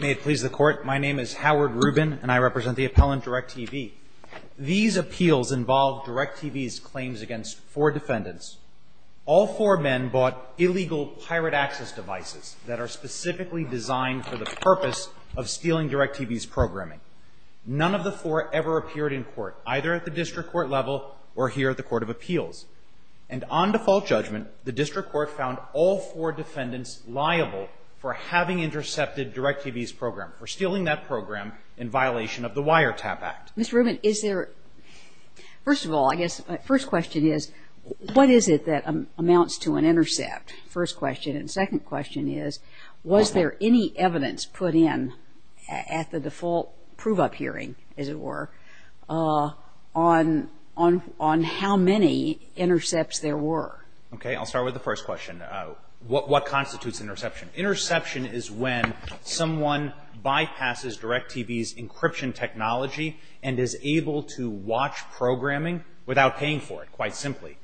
May it please the Court. My name is Howard Rubin, and I represent the appellant, Direct TV. These appeals involved Direct TV's claims against four defendants. All four men bought illegal pirate access devices that are specifically designed for the purpose of stealing Direct TV's programming. None of the four ever appeared in court, either at the district court level or here at the Court of Appeals. And on default judgment, the district court found all four defendants liable for having intercepted Direct TV's program, for stealing that program in violation of the Wiretap Act. Ms. Rubin, is there... First of all, I guess my first question is, what is it that amounts to an intercept? First question. And second question is, was there any evidence put in at the default prove-up hearing, as it were, on how many intercepts there were? Okay. I'll start with the first question. What constitutes an interception? Interception is when someone bypasses Direct TV's encryption technology and is able to watch programming without paying for it, quite simply.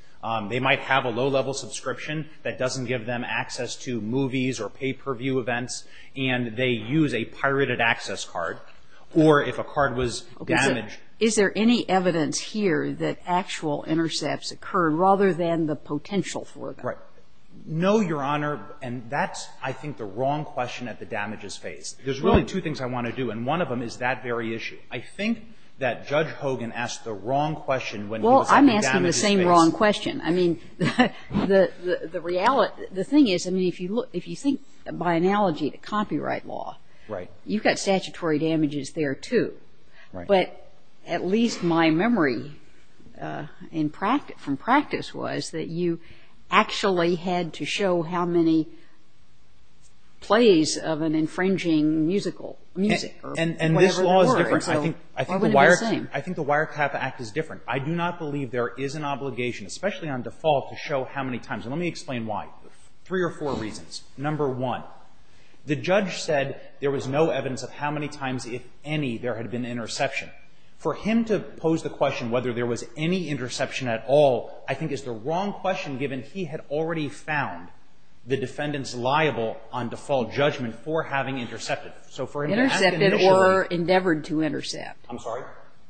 They might have a low-level subscription that doesn't give them access to movies or pay-per-view events, and they use a pirated access card, or if a card was damaged... Right. No, Your Honor. And that's, I think, the wrong question at the damages phase. There's really two things I want to do, and one of them is that very issue. I think that Judge Hogan asked the wrong question when he was at the damages phase. Well, I'm asking the same wrong question. I mean, the reality of it, the thing is, I mean, if you look, if you think by analogy to copyright law... Right. ...you've got statutory damages there, too. Right. But at least my memory in practice, from practice, was that you actually had to show how many plays of an infringing musical, music, or whatever it was. And this law is different. I think the Wireclap Act is different. I do not believe there is an obligation, especially on default, to show how many times. And let me explain why. Three or four reasons. Number one, the judge said there was no evidence of how many times, if any, there had been interception. For him to pose the question whether there was any interception at all, I think, is the wrong question, given he had already found the defendant's liable on default judgment for having intercepted. So for him to ask an initiator... Intercepted or endeavored to intercept. I'm sorry?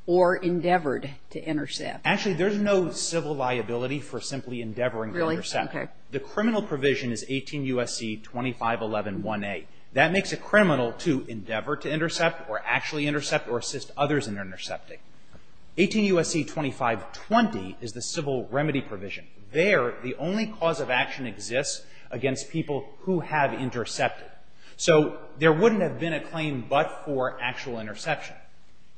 Or endeavored to intercept. Actually, there's no civil liability for simply endeavoring to intercept. Really? Okay. The criminal provision is 18 U.S.C. 25111A. That makes a criminal to endeavor to intercept or actually intercept or assist others in intercepting. 18 U.S.C. 2520 is the civil remedy provision. There, the only cause of action exists against people who have intercepted. So there wouldn't have been a claim but for actual interception.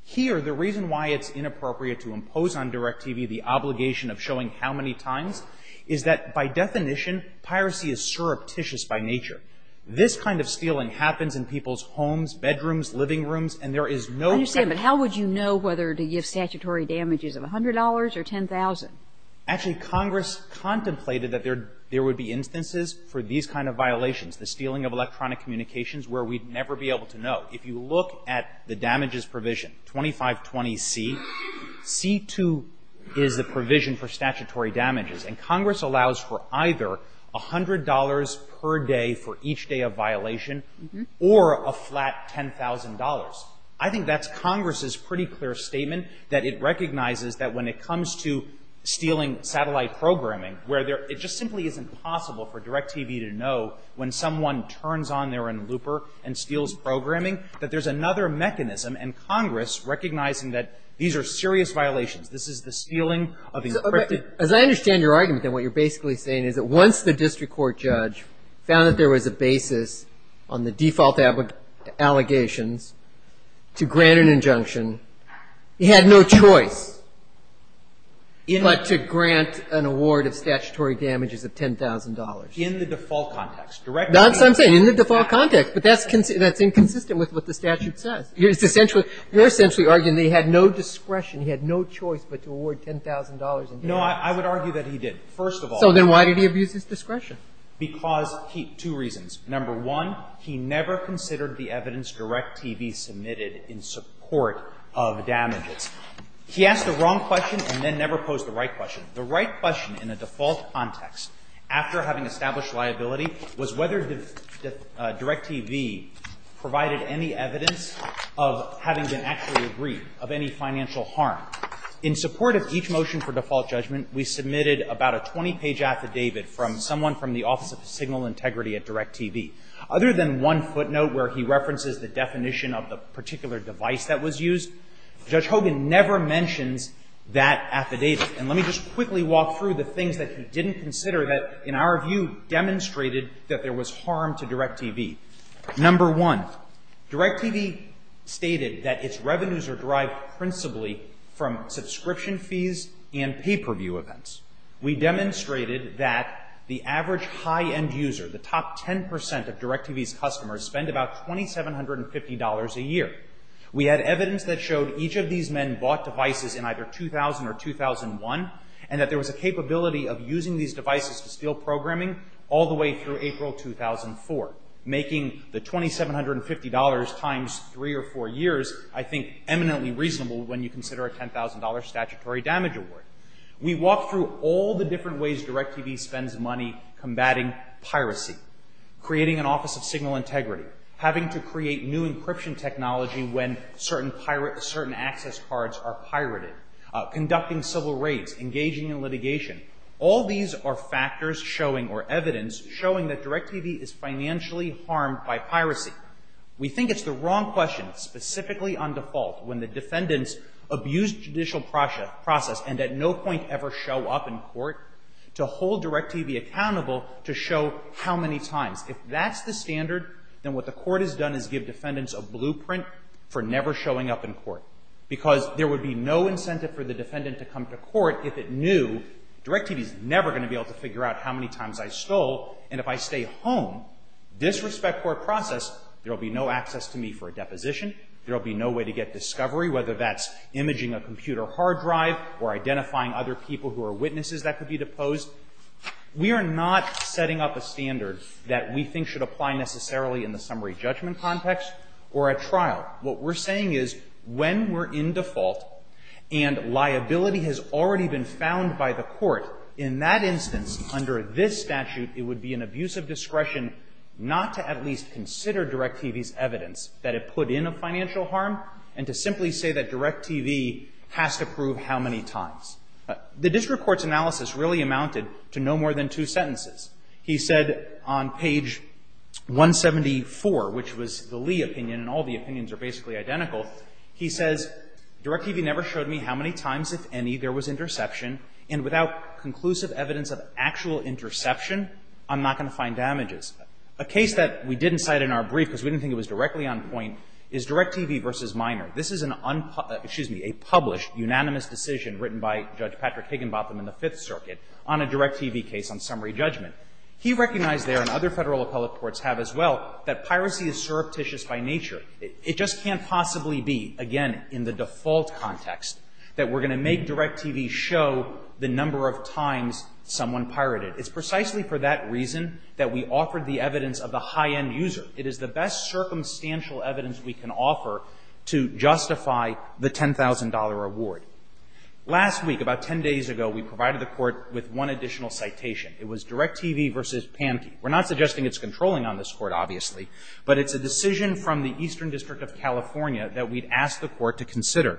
Here, the reason why it's inappropriate to impose on DirecTV the obligation of showing how many times is that, by definition, piracy is surreptitious by nature. This kind of stealing happens in people's rooms and there is no... I understand, but how would you know whether to give statutory damages of $100 or $10,000? Actually, Congress contemplated that there would be instances for these kind of violations, the stealing of electronic communications, where we'd never be able to know. If you look at the damages provision, 2520C, C2 is the provision for statutory damages. And Congress allows for either $100 per day for each day of violation or a flat $10,000. So that's false. I think that's Congress's pretty clear statement, that it recognizes that when it comes to stealing satellite programming, where it just simply isn't possible for DirecTV to know when someone turns on their Looper and steals programming, that there's another mechanism and Congress recognizing that these are serious violations. This is the stealing of encrypted... As I understand your argument and what you're basically saying is that once the district court judge found that there was a basis on the default allegations to grant an injunction, he had no choice but to grant an award of statutory damages of $10,000. In the default context. That's what I'm saying, in the default context, but that's inconsistent with what the statute says. You're essentially arguing that he had no discretion, he had no choice but to award $10,000 in damages. No, I would argue that he did, first of all. So then why did he abuse his discretion? Because he – two reasons. Number one, he never considered the evidence DirecTV submitted in support of damages. He asked the wrong question and then never posed the right question. The right question in a default context, after having established liability, was whether DirecTV provided any evidence of having been actually aggrieved of any financial harm. In support of each motion for default judgment, we submitted about a 20-page affidavit from someone from the Office of Signal Integrity at DirecTV. Other than one footnote where he references the definition of the particular device that was used, Judge Hogan never mentions that affidavit. And let me just quickly walk through the things that he didn't consider that, in our view, demonstrated that there was harm to DirecTV. Number one, DirecTV stated that its revenues are derived principally from subscription fees and pay-per-view events. We demonstrated that the average high-end user, the top 10 percent of DirecTV's customers, spend about $2,750 a year. We had evidence that showed each of these men bought devices in either 2000 or 2001, and that there was a capability of using these devices to steal programming all the way through April 2004, making the $2,750 times three or four years, I think, eminently reasonable when you consider a $10,000 statutory damage award. We walked through all the different ways DirecTV spends money combating piracy, creating an Office of Signal Integrity, having to create new encryption technology when certain access cards are pirated, conducting civil raids, engaging in litigation. All these are factors showing or evidence showing that DirecTV is financially harmed by piracy. We think it's the wrong question, specifically on default, when the defendants abuse judicial process and at no point ever show up in court, to hold DirecTV accountable to show how many times. If that's the standard, then what the court has done is give defendants a blueprint for never showing up in court, because there would be no incentive for the defendant to come to court if it knew DirecTV's never going to be able to figure out how many times I say home, disrespect court process, there will be no access to me for a deposition. There will be no way to get discovery, whether that's imaging a computer hard drive or identifying other people who are witnesses that could be deposed. We are not setting up a standard that we think should apply necessarily in the summary judgment context or at trial. What we're saying is when we're in default and liability has already been found by the discretion not to at least consider DirecTV's evidence that it put in a financial harm and to simply say that DirecTV has to prove how many times. The district court's analysis really amounted to no more than two sentences. He said on page 174, which was the Lee opinion, and all the opinions are basically identical, he says, DirecTV never showed me how many times, if any, there was interception, and without conclusive evidence of actual interception, I'm not going to find damages. A case that we didn't cite in our brief, because we didn't think it was directly on point, is DirecTV v. Minor. This is an unpublished, excuse me, a published unanimous decision written by Judge Patrick Higginbotham in the Fifth Circuit on a DirecTV case on summary judgment. He recognized there, and other federal appellate courts have as well, that piracy is surreptitious by nature. It just can't possibly be, again, in the default context, that we're going to make DirecTV show the number of times someone pirated. It's precisely for that reason that we offered the evidence of the high-end user. It is the best circumstantial evidence we can offer to justify the $10,000 award. Last week, about ten days ago, we provided the Court with one additional citation. It was DirecTV v. Pankey. We're not suggesting it's controlling on this Court, obviously, but it's a decision from the Eastern District of California that we'd asked the Court to consider.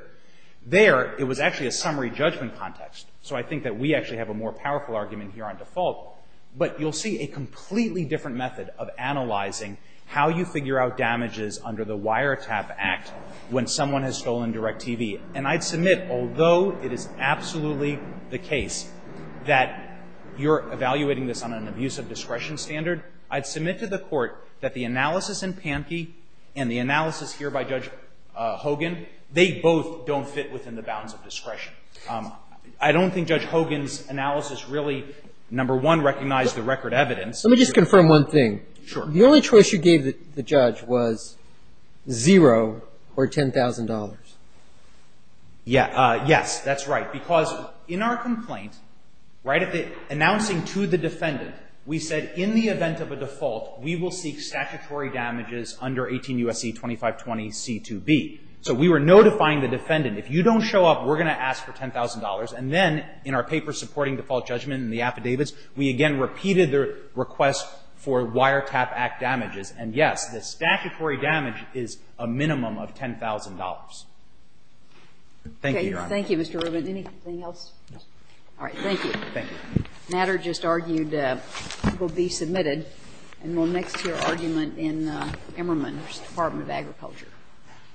There, it was actually a summary judgment context, so I think that we actually have a more powerful argument here on default. But you'll see a completely different method of analyzing how you figure out damages under the Wiretap Act when someone has stolen DirecTV. And I'd submit, although it is absolutely the case that you're evaluating this on an abusive discretion standard, I'd submit to the Court that the analysis in Pankey and the analysis here by Judge Hogan, they both don't fit within the bounds of discretion. I don't think Judge Hogan's analysis really, number one, recognized the record evidence. Let me just confirm one thing. Sure. The only choice you gave the judge was zero or $10,000. Yes. That's right. Because in our complaint, right at the announcing to the defendant, we said in the event of a default, we will seek statutory damages under 18 U.S.C. 2520C2B. So we were notifying the defendant, if you don't show up, we're going to ask for $10,000. And then in our paper supporting default judgment in the affidavits, we again repeated the request for Wiretap Act damages. And, yes, the statutory damage is a minimum of $10,000. Thank you, Your Honor. Okay. Thank you, Mr. Rubin. Anything else? All right. Thank you. Thank you. The matter just argued will be submitted and will mix to your argument in Emmerman's